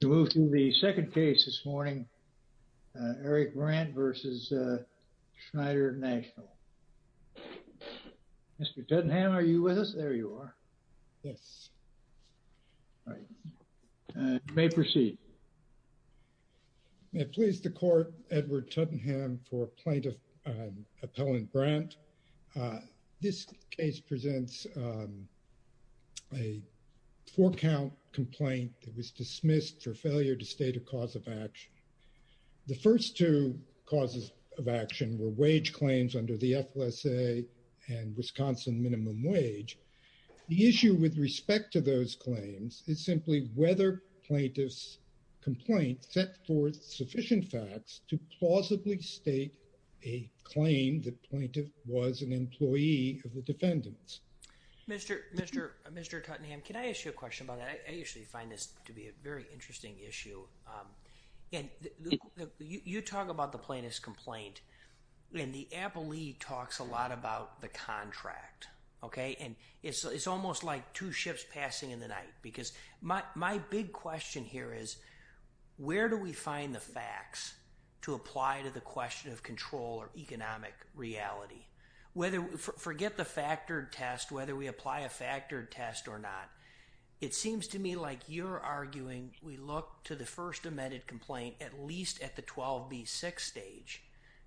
To move to the second case this morning, Eric Brant v. Schneider National. Mr. Tuttenham, are you with us? There you are. Yes. All right, you may proceed. May it please the court, Edward Tuttenham for Plaintiff Appellant Brant. This case presents a four count complaint that was dismissed for failure to state a cause of action. The first two causes of action were wage claims under the FLSA and Wisconsin minimum wage. The issue with respect to those claims is simply whether plaintiff's complaint set forth sufficient facts to plausibly state a claim that plaintiff was an employee of the defendants. Mr. Tuttenham, can I ask you a question about that? I actually find this to be a very interesting issue. You talk about the plaintiff's complaint, and the appellee talks a lot about the contract, okay? And it's almost like two ships passing in the night because my big question here is, where do we find the facts to apply to the question of control or economic reality? Forget the factored test, whether we apply a factored test or not. It seems to me like you're arguing we look to the first amended complaint, at least at the 12B6 stage,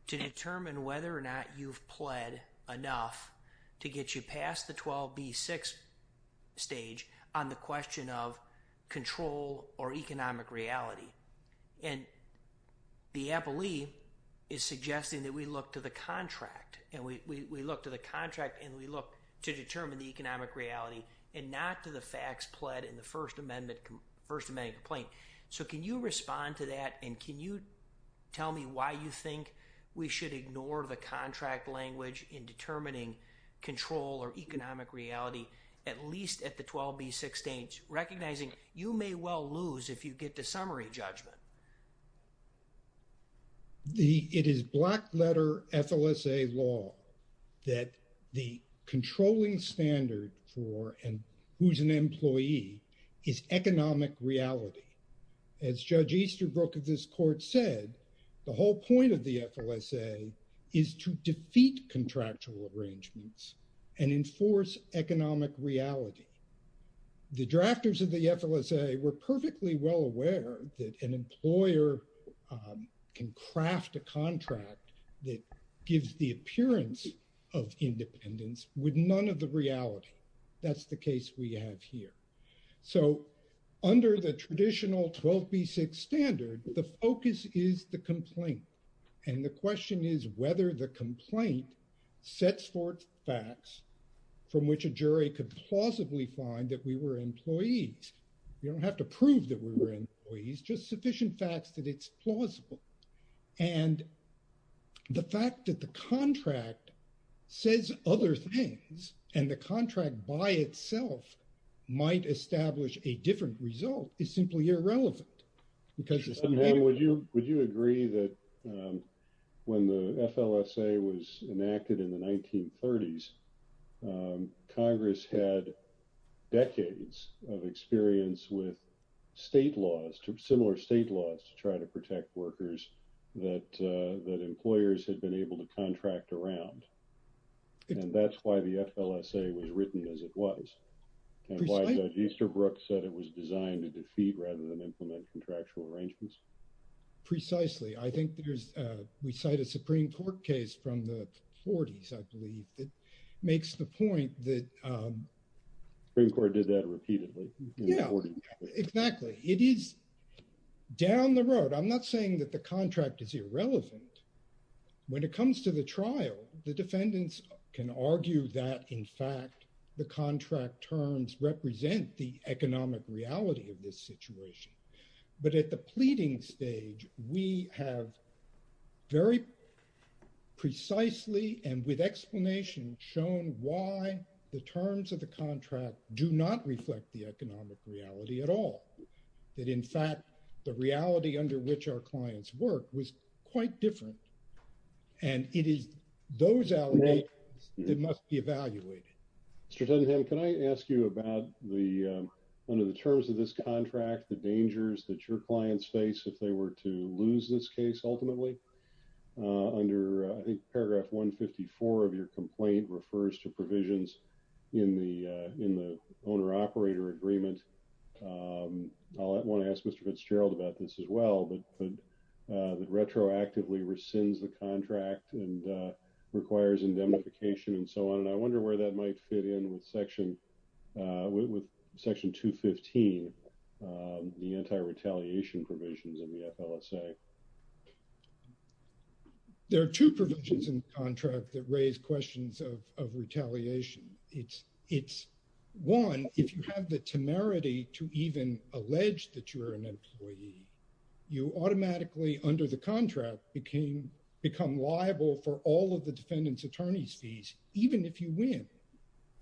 to determine whether or not you've pled enough to get you past the 12B6 stage on the question of control or economic reality. And the appellee is suggesting that we look to the contract, and we look to the contract, and we look to determine the economic reality, and not to the facts pled in the first amendment complaint. So can you respond to that? And can you tell me why you think we should ignore the contract language in determining control or economic reality, at least at the 12B6 stage, recognizing you may well lose if you get to summary judgment? It is black letter FLSA law that the controlling standard for who's an employee is economic reality. As Judge Easterbrook of this court said, the whole point of the FLSA is to defeat contractual arrangements and enforce economic reality. The drafters of the FLSA were perfectly well aware that an employer can craft a contract that gives the appearance of independence with none of the reality. That's the case we have here. So under the traditional 12B6 standard, the focus is the complaint. And the question is whether the complaint sets forth facts from which a jury could plausibly find that we were employees. You don't have to prove that we were employees, just sufficient facts that it's plausible. And the fact that the contract says other things and the contract by itself might establish a different result is simply irrelevant because it's- Would you agree that when the FLSA was enacted in the 1930s, Congress had decades of experience with state laws, similar state laws to try to protect workers that employers had been able to contract around. And that's why the FLSA was written as it was. And why Judge Easterbrook said it was designed to defeat rather than implement contractual arrangements. Precisely. I think there's, we cite a Supreme Court case from the 40s, I believe, that makes the point that- Supreme Court did that repeatedly. Yeah, exactly. It is down the road. I'm not saying that the contract is irrelevant. When it comes to the trial, the defendants can argue that in fact, the contract terms represent the economic reality of this situation. But at the pleading stage, we have very precisely and with explanation shown why the terms of the contract do not reflect the economic reality at all. That in fact, the reality under which our clients work was quite different. And it is those allegations that must be evaluated. Mr. Tottenham, can I ask you about the, under the terms of this contract, the dangers that your clients face if they were to lose this case ultimately? Under, I think paragraph 154 of your complaint refers to provisions in the owner-operator agreement. I want to ask Mr. Fitzgerald about this as well, but that retroactively rescinds the contract and requires indemnification and so on. And I wonder where that might fit in with section, with section 215, the anti-retaliation provisions in the FLSA. There are two provisions in the contract that raise questions of retaliation. It's one, if you have the temerity to even allege that you're an employee, you automatically under the contract become liable for all of the defendant's attorney's fees, even if you win.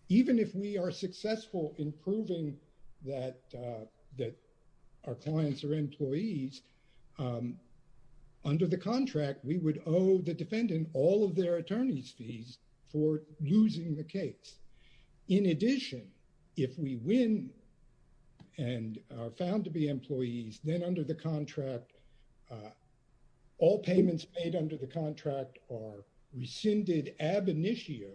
Even if we are successful in proving under the contract, we would owe the defendant all of their attorney's fees for losing the case. In addition, if we win and are found to be employees, then under the contract, all payments paid under the contract are rescinded ab initio.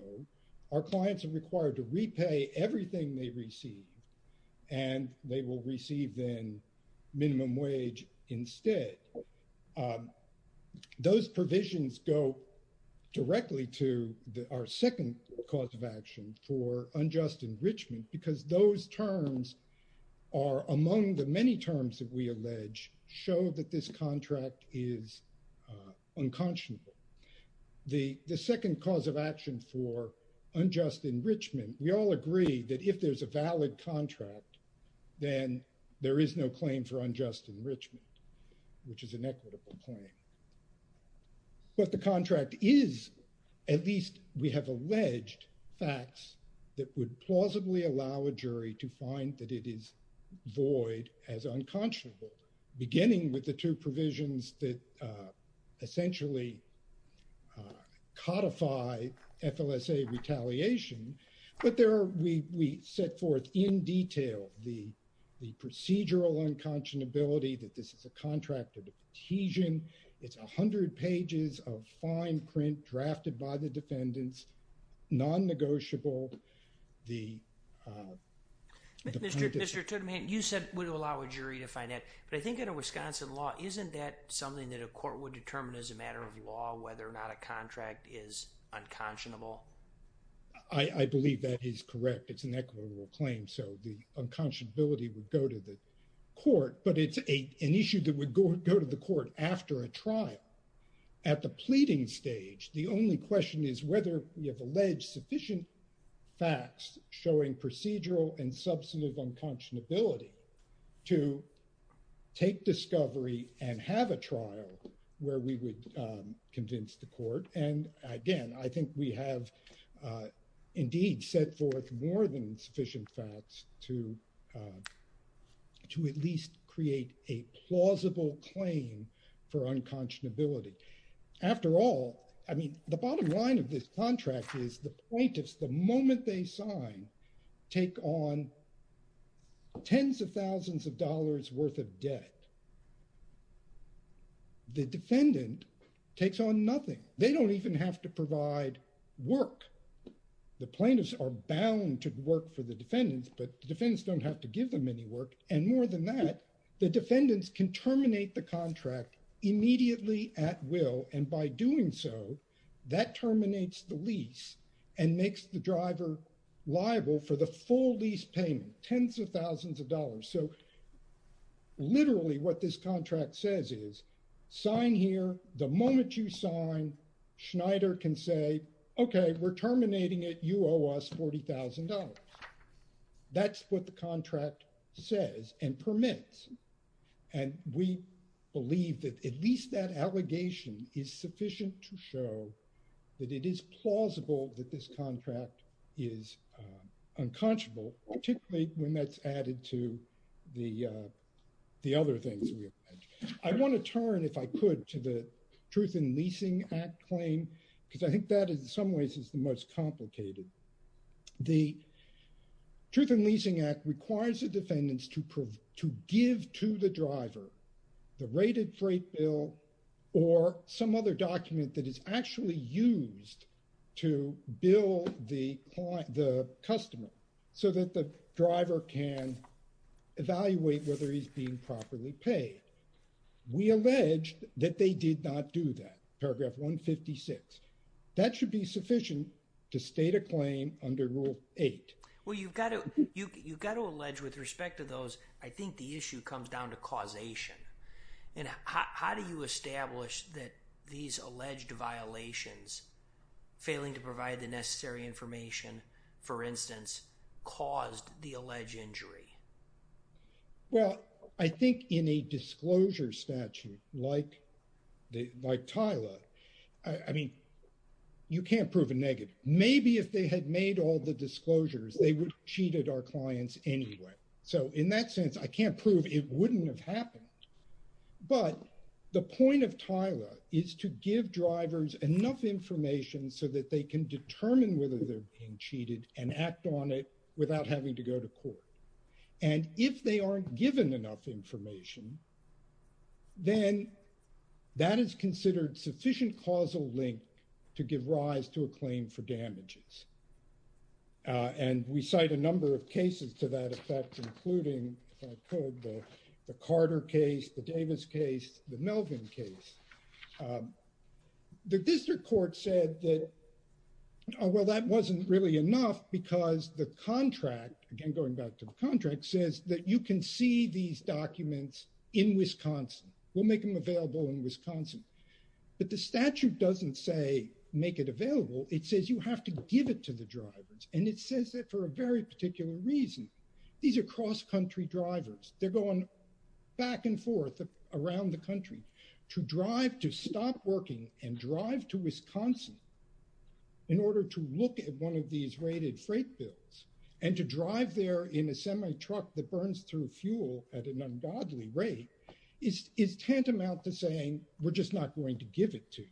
Our clients are required to repay everything they receive, and they will receive then minimum wage instead. Those provisions go directly to our second cause of action for unjust enrichment, because those terms are among the many terms that we allege show that this contract is unconscionable. The second cause of action for unjust enrichment, we all agree that if there's a valid contract, then there is no claim for unjust enrichment, which is an equitable claim. What the contract is, at least we have alleged facts that would plausibly allow a jury to find that it is void as unconscionable, beginning with the two provisions that essentially codify FLSA retaliation, but there we set forth in detail the procedural unconscionability that this is a contract of adhesion. It's a hundred pages of fine print drafted by the defendants, non-negotiable. Mr. Tudman, you said it would allow a jury to find it, but I think in a Wisconsin law, isn't that something that a court would determine as a matter of law, whether or not a contract is unconscionable? I believe that is correct. It's an equitable claim. So the unconscionability would go to the court, but it's an issue that would go to the court after a trial. At the pleading stage, the only question is whether we have alleged sufficient facts showing procedural and substantive unconscionability to take discovery and have a trial where we would convince the court. And again, I think we have indeed set forth more than sufficient facts to at least create a plausible claim for unconscionability. After all, I mean, the bottom line of this contract is the plaintiffs, the moment they sign, take on tens of thousands of dollars worth of debt. The defendant takes on nothing. They don't even have to provide work. The plaintiffs are bound to work for the defendants, but the defendants don't have to give them any work. And more than that, the defendants can terminate the contract immediately at will. And by doing so, that terminates the lease and makes the driver liable for the full lease payment, tens of thousands of dollars. So literally what this contract says is, sign here, the moment you sign, Schneider can say, okay, we're terminating it. You owe us $40,000. That's what the contract says and permits. And we believe that at least that allegation is sufficient to show that it is plausible that this contract is unconscionable, particularly when that's added to the other things. I wanna turn, if I could, to the Truth in Leasing Act claim, because I think that in some ways is the most complicated. The Truth in Leasing Act requires the defendants to give to the driver the rated freight bill or some other document that is actually used to bill the customer so that the driver can evaluate whether he's being properly paid. We allege that they did not do that, paragraph 156. That should be sufficient to state a claim under rule eight. Well, you've gotta allege with respect to those, I think the issue comes down to causation. And how do you establish that these alleged violations, failing to provide the necessary information, for instance, caused the alleged injury? Well, I think in a disclosure statute like Tyler, I mean, you can't prove a negative. Maybe if they had made all the disclosures, they would have cheated our clients anyway. So in that sense, I can't prove it wouldn't have happened. But the point of Tyler is to give drivers enough information so that they can determine whether they're being cheated and act on it without having to go to court. And if they aren't given enough information, then that is considered sufficient causal link to give rise to a claim for damages. And we cite a number of cases to that effect, including the Carter case, the Davis case, the Melvin case. The district court said that, oh, well, that wasn't really enough because the contract, again, going back to the contract, says that you can see these documents in Wisconsin. We'll make them available in Wisconsin. But the statute doesn't say make it available. It says you have to give it to the drivers. And it says that for a very particular reason. These are cross-country drivers. They're going back and forth around the country to drive to stop working and drive to Wisconsin in order to look at one of these raided freight bills and to drive there in a semi truck that burns through fuel at an ungodly rate is tantamount to saying, we're just not going to give it to you.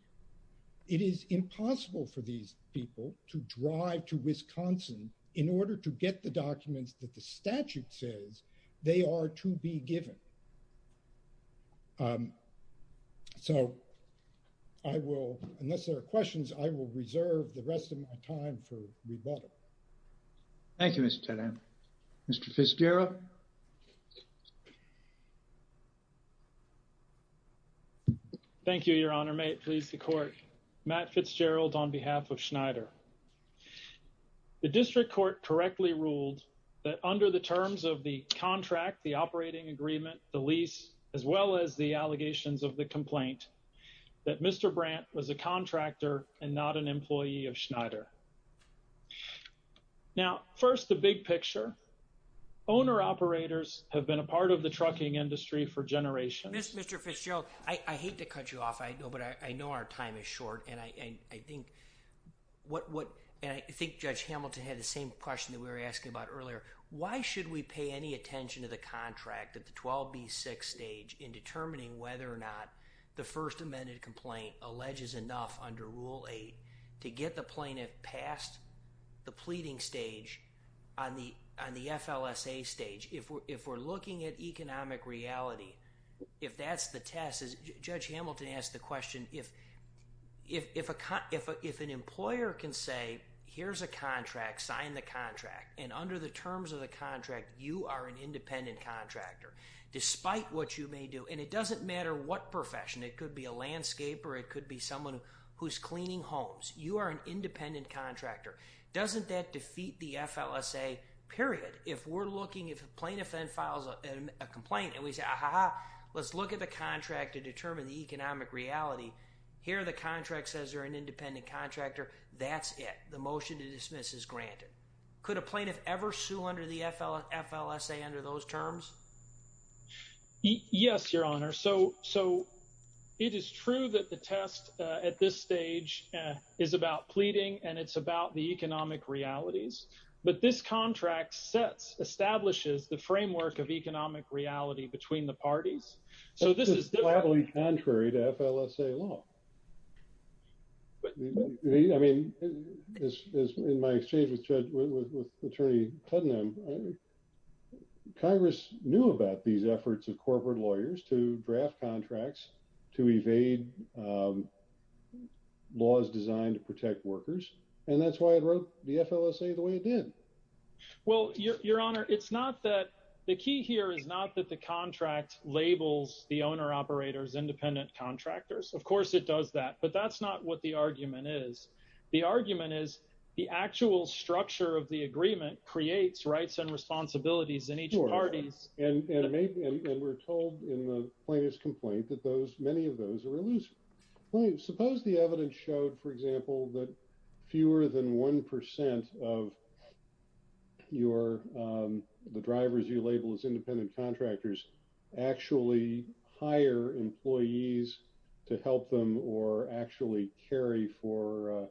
It is impossible for these people to drive to Wisconsin in order to get the documents that the statute says they are to be given. So I will, unless there are questions, I will reserve the rest of my time for rebuttal. Thank you, Mr. Tedham. Mr. Fitzgerald. Thank you, your honor. May it please the court. Matt Fitzgerald on behalf of Schneider. The district court correctly ruled that under the terms of the contract, the operating agreement, the lease, as well as the allegations of the complaint, that Mr. Brandt was a contractor and not an employee of Schneider. Now, first, the big picture, owner operators have been a part of the trucking industry for generations. Mr. Fitzgerald, I hate to cut you off, but I know our time is short. And I think Judge Hamilton had the same question that we were asking about earlier. Why should we pay any attention to the contract at the 12B6 stage in determining whether or not the first amended complaint alleges enough under rule eight to get the plaintiff past the pleading stage on the FLSA stage? If we're looking at economic reality, if that's the test, Judge Hamilton asked the question, if an employer can say, here's a contract, sign the contract, and under the terms of the contract, you are an independent contractor, despite what you may do. And it doesn't matter what profession. It could be a landscaper, it could be someone who's cleaning homes. You are an independent contractor. Doesn't that defeat the FLSA, period? If we're looking, if a plaintiff then files a complaint and we say, ah-ha-ha, let's look at the contract to determine the economic reality, here the contract says you're an independent contractor, that's it, the motion to dismiss is granted. Could a plaintiff ever sue under the FLSA under those terms? Yes, Your Honor. So it is true that the test at this stage is about pleading and it's about the economic realities, but this contract sets, establishes the framework of economic reality between the parties. So this is- This is gladly contrary to FLSA law. I mean, in my exchange with Attorney Putnam, Congress knew about these efforts of corporate lawyers to draft contracts to evade laws designed to protect workers and that's why it wrote the FLSA the way it did. Well, Your Honor, it's not that, the key here is not that the contract labels the owner-operators independent contractors. Of course it does that, but that's not what the argument is. The argument is the actual structure of the agreement creates rights and responsibilities in each parties. And we're told in the plaintiff's complaint that those, many of those are elusive. Suppose the evidence showed, for example, that fewer than 1% of your, the drivers you label as independent contractors actually hire employees to help them or actually carry for,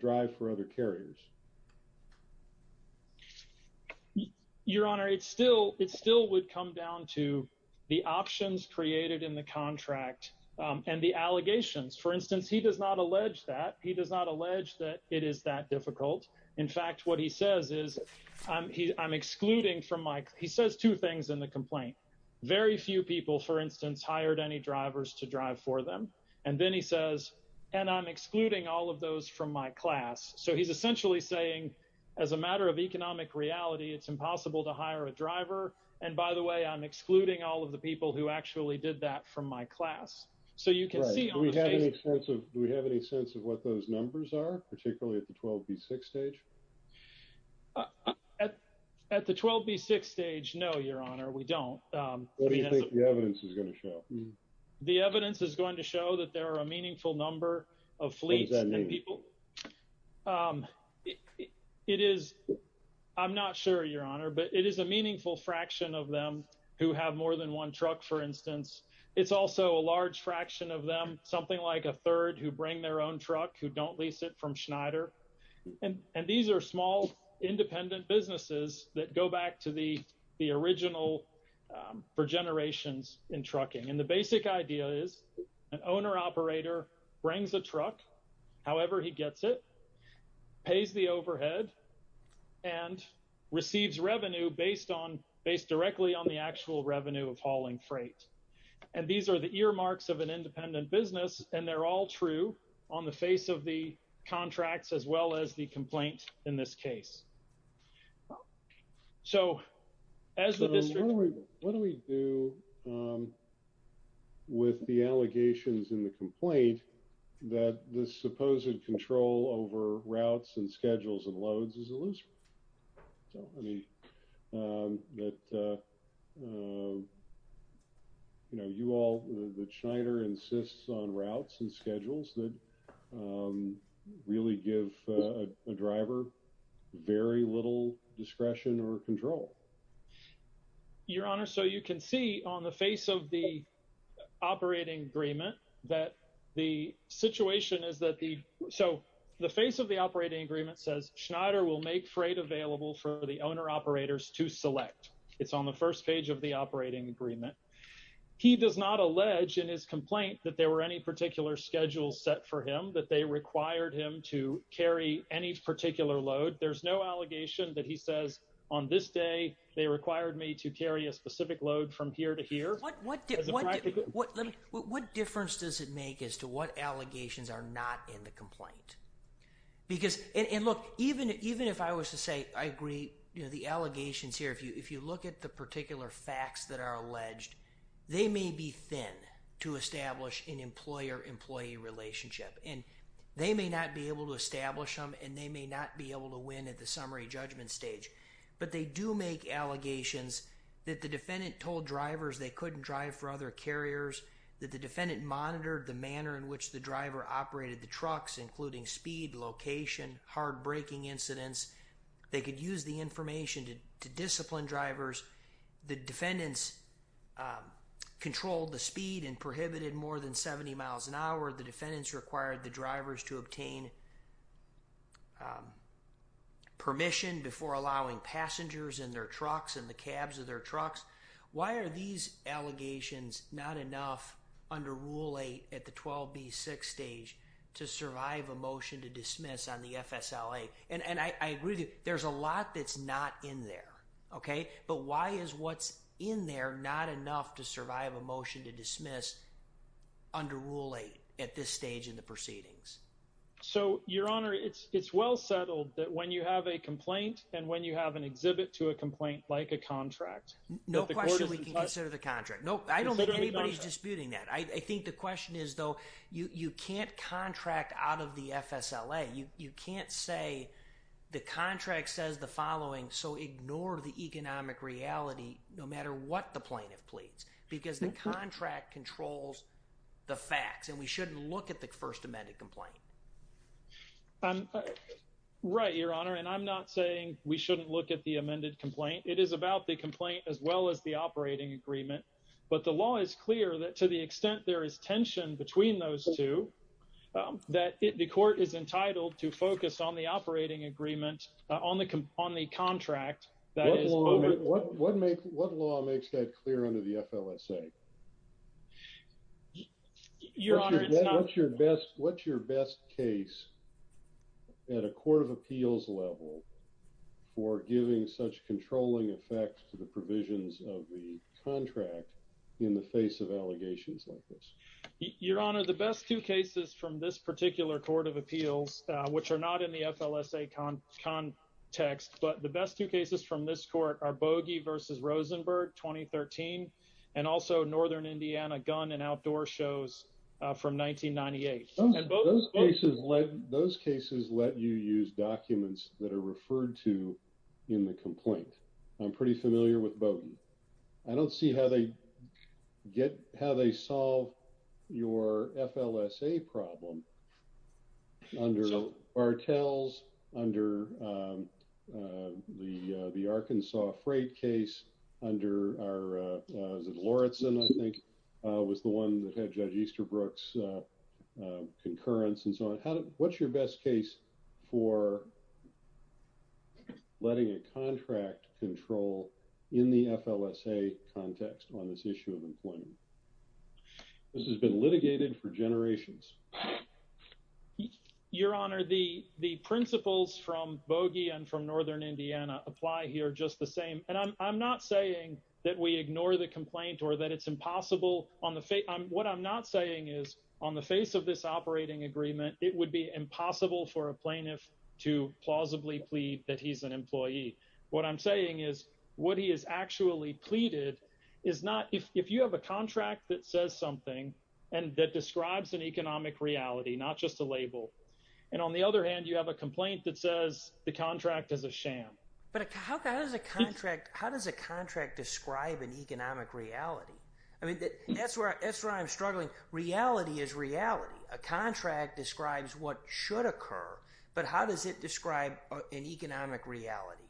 drive for other carriers. Your Honor, it's still, it still would come down to the options created in the contract and the allegations. For instance, he does not allege that. He does not allege that it is that difficult. In fact, what he says is, I'm excluding from my, he says two things in the complaint. Very few people, for instance, hired any drivers to drive for them. And then he says, and I'm excluding all of those from my class. So he's essentially saying, as a matter of economic reality, it's impossible to hire a driver. And by the way, I'm excluding all of the people who actually did that from my class. So you can see- Do we have any sense of what those numbers are, particularly at the 12B6 stage? At the 12B6 stage, no, Your Honor, we don't. What do you think the evidence is gonna show? The evidence is going to show that there are a meaningful number of fleets and people. It is, I'm not sure, Your Honor, but it is a meaningful fraction of them who have more than one truck, for instance. It's also a large fraction of them, something like a third who bring their own truck, who don't lease it from Schneider. And these are small, independent businesses that go back to the original, for generations, in trucking. And the basic idea is an owner-operator brings a truck. However he gets it, pays the overhead, and receives revenue based directly on the actual revenue of hauling freight. And these are the earmarks of an independent business, and they're all true on the face of the contracts, as well as the complaint in this case. So as the district- What do we do with the allegations in the complaint that this supposed control over routes and schedules and loads is illusory? I mean, that, you know, you all, that Schneider insists on routes and schedules that really give a driver very little discretion or control. Your Honor, so you can see on the face of the operating agreement that the situation is that the, so the face of the operating agreement says, Schneider will make freight available for the owner-operators to select. It's on the first page of the operating agreement. He does not allege in his complaint that there were any particular schedules set for him, that they required him to carry any particular load. There's no allegation that he says, on this day, they required me to carry a specific load from here to here. What difference does it make as to what allegations are not in the complaint? Because, and look, even if I was to say, I agree, you know, the allegations here, if you look at the particular facts that are alleged, they may be thin to establish an employer-employee relationship, and they may not be able to establish them, and they may not be able to win at the summary judgment stage, but they do make allegations that the defendant told drivers they couldn't drive for other carriers, that the defendant monitored the manner in which the driver operated the trucks, including speed, location, hard braking incidents. They could use the information to discipline drivers. The defendants controlled the speed and prohibited more than 70 miles an hour. The defendants required the drivers to obtain permission before allowing passengers in their trucks and the cabs of their trucks. Why are these allegations not enough under Rule 8 at the 12B6 stage to survive a motion to dismiss on the FSLA? And I agree, there's a lot that's not in there, okay? But why is what's in there not enough to survive a motion to dismiss under Rule 8 at this stage in the proceedings? So, Your Honor, it's well settled that when you have a complaint and when you have an exhibit to a complaint, like a contract- No question we can consider the contract. Nope, I don't think anybody's disputing that. I think the question is, though, you can't contract out of the FSLA. You can't say the contract says the following, so ignore the economic reality, no matter what the plaintiff pleads, because the contract controls the facts and we shouldn't look at the first amended complaint. Right, Your Honor, and I'm not saying we shouldn't look at the amended complaint. It is about the complaint as well as the operating agreement. But the law is clear that to the extent there is tension between those two, that the court is entitled to focus on the operating agreement on the contract. That is- What law makes that clear under the FLSA? Your Honor, it's not- What's your best case at a court of appeals level for giving such controlling effects to the provisions of the contract in the face of allegations like this? Your Honor, the best two cases from this particular court of appeals, which are not in the FLSA context, but the best two cases from this court are Bogie v. Rosenberg, 2013, and also Northern Indiana Gun and Outdoor Shows from 1998. Those cases let you use documents that are referred to in the complaint. I'm pretty familiar with Bogie. I don't see how they solve your FLSA problem under Bartels, under the Arkansas Freight case, under our, is it Lawrence, I think, was the one that had Judge Easterbrook's concurrence and so on. What's your best case for letting a contract control in the FLSA context on this issue of employment? This has been litigated for generations. Your Honor, the principles from Bogie and from Northern Indiana apply here just the same. And I'm not saying that we ignore the complaint or that it's impossible on the face, what I'm not saying is, on the face of this operating agreement, it would be impossible for a plaintiff to plausibly plead that he's an employee. What I'm saying is, what he has actually pleaded is not, if you have a contract that says something and that describes an economic reality, not just a label, and on the other hand, you have a complaint that says the contract is a sham. But how does a contract describe an economic reality? I mean, that's where I'm struggling. Reality is reality. A contract describes what should occur, but how does it describe an economic reality?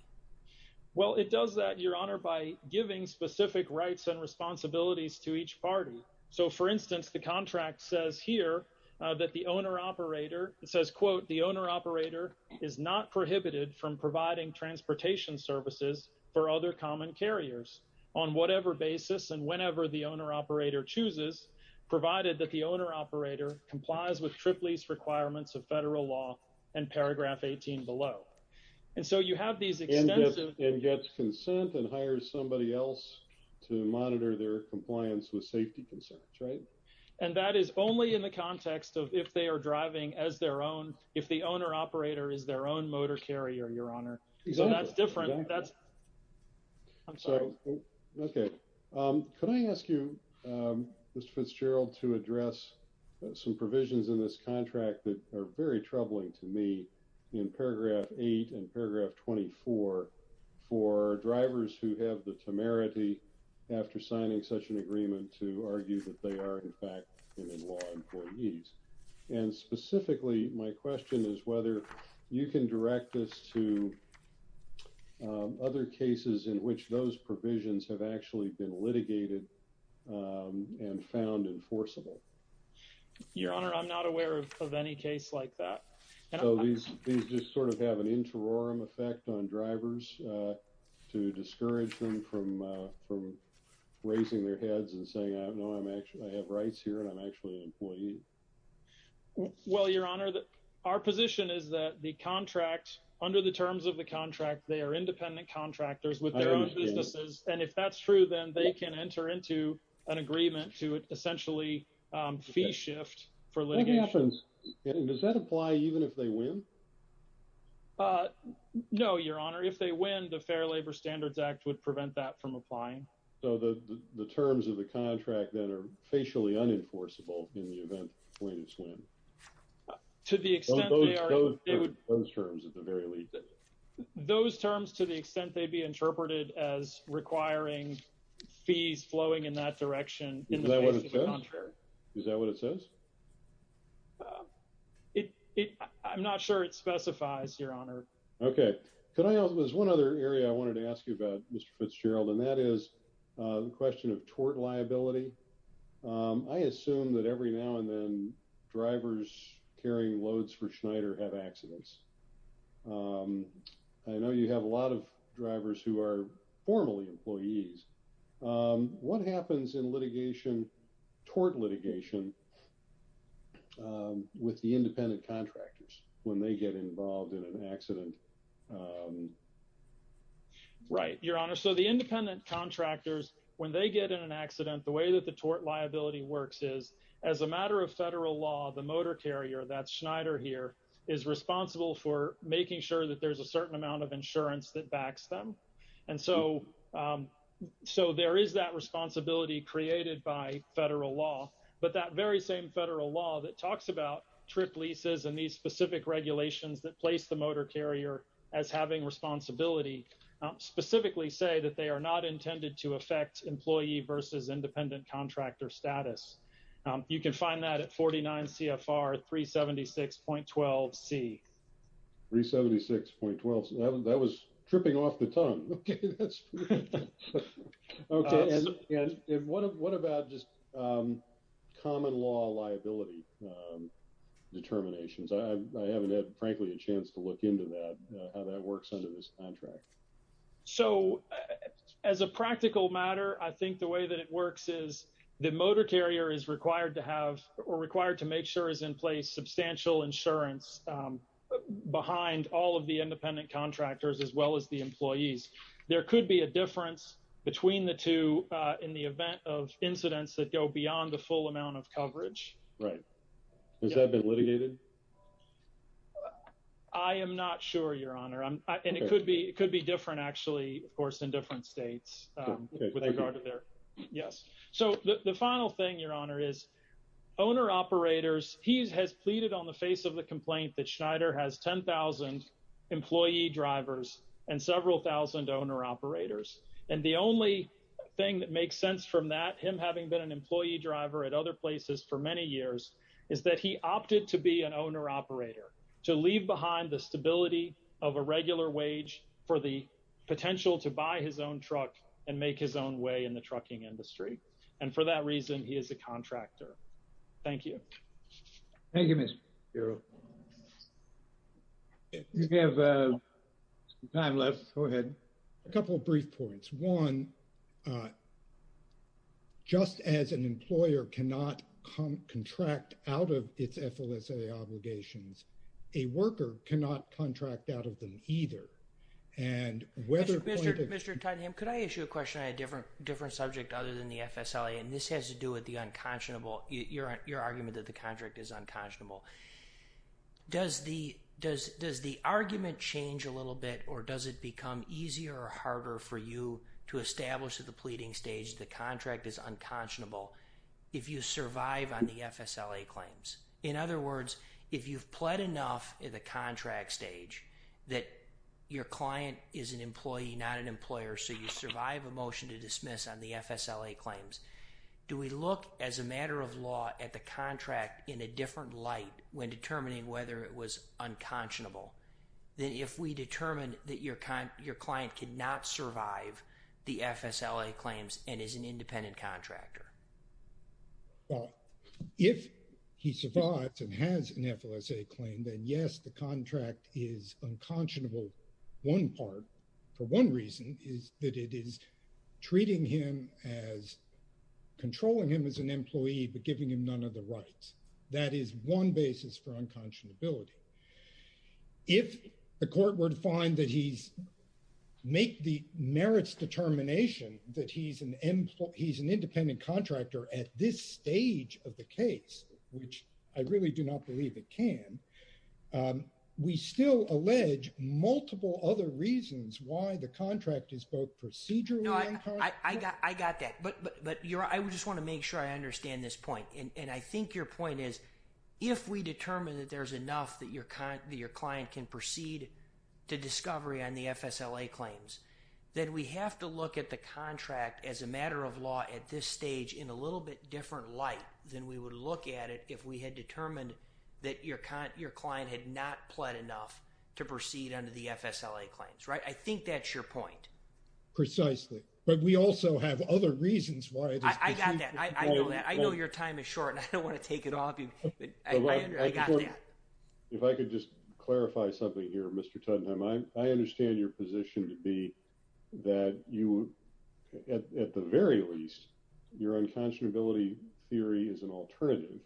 Well, it does that, Your Honor, by giving specific rights and responsibilities to each party. So for instance, the contract says here that the owner-operator, it says, quote, the owner-operator is not prohibited from providing transportation services for other common carriers. On whatever basis and whenever the owner-operator chooses, provided that the owner-operator complies with TRIPLEASE requirements of federal law and paragraph 18 below. And so you have these extensive- And gets consent and hires somebody else to monitor their compliance with safety concerns, right? And that is only in the context of if they are driving as their own, if the owner-operator is their own motor carrier, Your Honor. So that's different, that's- Okay. Could I ask you, Mr. Fitzgerald, to address some provisions in this contract that are very troubling to me in paragraph eight and paragraph 24 for drivers who have the temerity after signing such an agreement to argue that they are in fact in-law employees. And specifically, my question is whether you can direct this to other cases in which those provisions have actually been litigated and found enforceable. Your Honor, I'm not aware of any case like that. So these just sort of have an interiorum effect on drivers to discourage them from raising their heads and saying, I have rights here and I'm actually an employee. Well, Your Honor, our position is that the contract, under the terms of the contract, they are independent contractors with their own businesses. And if that's true, then they can enter into an agreement to essentially fee shift for litigation. What happens, does that apply even if they win? No, Your Honor, if they win, the Fair Labor Standards Act would prevent that from applying. So the terms of the contract that are facially unenforceable in the event of a swing. To the extent they are- Those terms at the very least. Those terms to the extent they'd be interpreted as requiring fees flowing in that direction. Is that what it says? Is that what it says? I'm not sure it specifies, Your Honor. Okay, there's one other area I wanted to ask you about, Mr. Fitzgerald, and that is the question of tort liability. I assume that every now and then drivers carrying loads for Schneider have accidents. I know you have a lot of drivers who are formally employees. What happens in litigation, tort litigation, with the independent contractors when they get involved in an accident? Right, Your Honor. So the independent contractors, when they get in an accident, the way that the tort liability works is as a matter of federal law, the motor carrier that's Schneider here is responsible for making sure that there's a certain amount of insurance that backs them. And so there is that responsibility created by federal law, but that very same federal law that talks about trip leases and these specific regulations that place the motor carrier as having responsibility specifically say that they are not intended to affect employee versus independent contractor status. You can find that at 49 CFR 376.12C. 376.12, that was tripping off the tongue. Okay, that's pretty good. Okay, and what about just common law liability determinations? I haven't had, frankly, a chance to look into that, how that works under this contract. So as a practical matter, I think the way that it works is the motor carrier is required to have or required to make sure is in place substantial insurance behind all of the independent contractors as well as the employees. There could be a difference between the two in the event of incidents that go beyond the full amount of coverage. Right, has that been litigated? I am not sure, Your Honor. And it could be different actually, of course, in different states with regard to their, yes. So the final thing, Your Honor, is owner operators, he has pleaded on the face of the complaint that Schneider has 10,000 employee drivers and several thousand owner operators. And the only thing that makes sense from that, him having been an employee driver at other places for many years, is that he opted to be an owner operator, to leave behind the stability of a regular wage for the potential to buy his own truck and make his own way in the trucking industry. And for that reason, he is a contractor. Thank you. Thank you, Mr. Shapiro. We have some time left, go ahead. A couple of brief points. One, just as an employer cannot contract out of its FLSA obligations, a worker cannot contract out of them either. And whether- Mr. Tottingham, could I issue a question on a different subject other than the FSLA? And this has to do with the unconscionable, your argument that the contract is unconscionable. Does the argument change a little bit or does it become easier or harder for you to establish at the pleading stage the contract is unconscionable if you survive on the FSLA claims? In other words, if you've pled enough in the contract stage that your client is an employee, not an employer, so you survive a motion to dismiss on the FSLA claims, do we look, as a matter of law, at the contract in a different light when determining whether it was unconscionable than if we determine that your client cannot survive the FSLA claims and is an independent contractor? Well, if he survives and has an FLSA claim, then yes, the contract is unconscionable. One part, for one reason, is that it is treating him as, controlling him as an employee, but giving him none of the rights. That is one basis for unconscionability. If the court were to find that he's, make the merits determination that he's an independent contractor at this stage of the case, which I really do not believe it can, we still allege multiple other reasons why the contract is both procedurally unconscionable. No, I got that, but I just wanna make sure I understand this point, and I think your point is, if we determine that there's enough that your client can proceed to discovery on the FSLA claims, then we have to look at the contract, as a matter of law, at this stage, in a little bit different light than we would look at it if we had determined that your client had not pled enough to proceed under the FSLA claims, right? I think that's your point. Precisely, but we also have other reasons why it is- I got that, I know that. I know your time is short, and I don't wanna take it off you, but I got that. If I could just clarify something here, Mr. Tottenham, I understand your position to be that you, at the very least, your unconscionability theory is an alternative.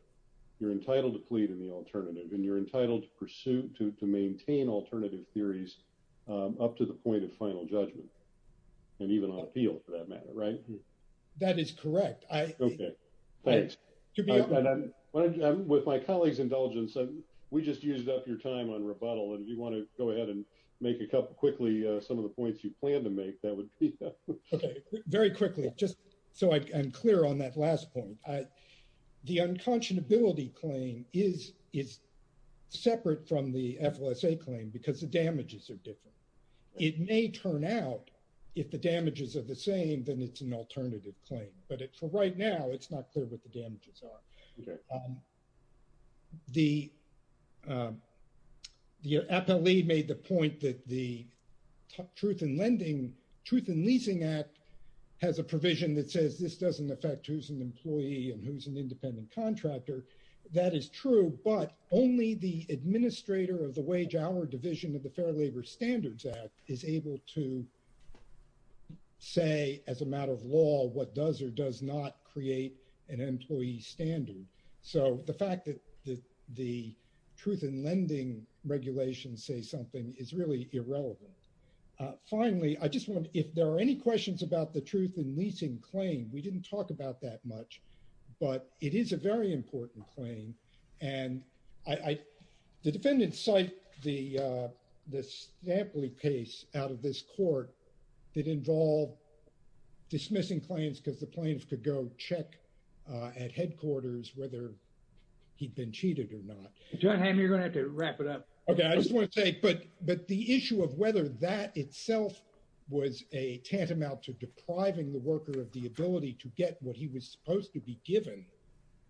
You're entitled to plead in the alternative, and you're entitled to pursue, to maintain alternative theories up to the point of final judgment, and even on appeal, for that matter, right? That is correct. Okay, thanks. To be honest- With my colleague's indulgence, we just used up your time on rebuttal, and if you wanna go ahead and make a couple, quickly, some of the points you plan to make, that would be- Okay, very quickly, just so I'm clear on that last point. The unconscionability claim is separate from the FLSA claim, because the damages are different. It may turn out, if the damages are the same, then it's an alternative claim, but for right now, it's not clear what the damages are. The appellee made the point that the Truth in Leasing Act has a provision that says this doesn't affect who's an employee and who's an independent contractor. That is true, but only the administrator of the wage-hour division of the Fair Labor Standards Act is able to say, as a matter of law, what does or does not create an employee standard. So the fact that the truth in lending regulations say something is really irrelevant. Finally, I just want, if there are any questions about the truth in leasing claim, we didn't talk about that much, but it is a very important claim. The defendant cited the stamply case out of this court that involved dismissing claims because the plaintiff could go check at headquarters whether he'd been cheated or not. John Hammond, you're going to have to wrap it up. Okay, I just want to say, but the issue of whether that itself was a tantamount to depriving the worker of the ability to get what he was supposed to be given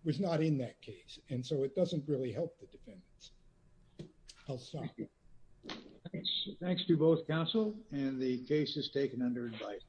was not in that case. And so it doesn't really help the defendants. I'll stop. Thanks to both counsel and the case is taken under advice.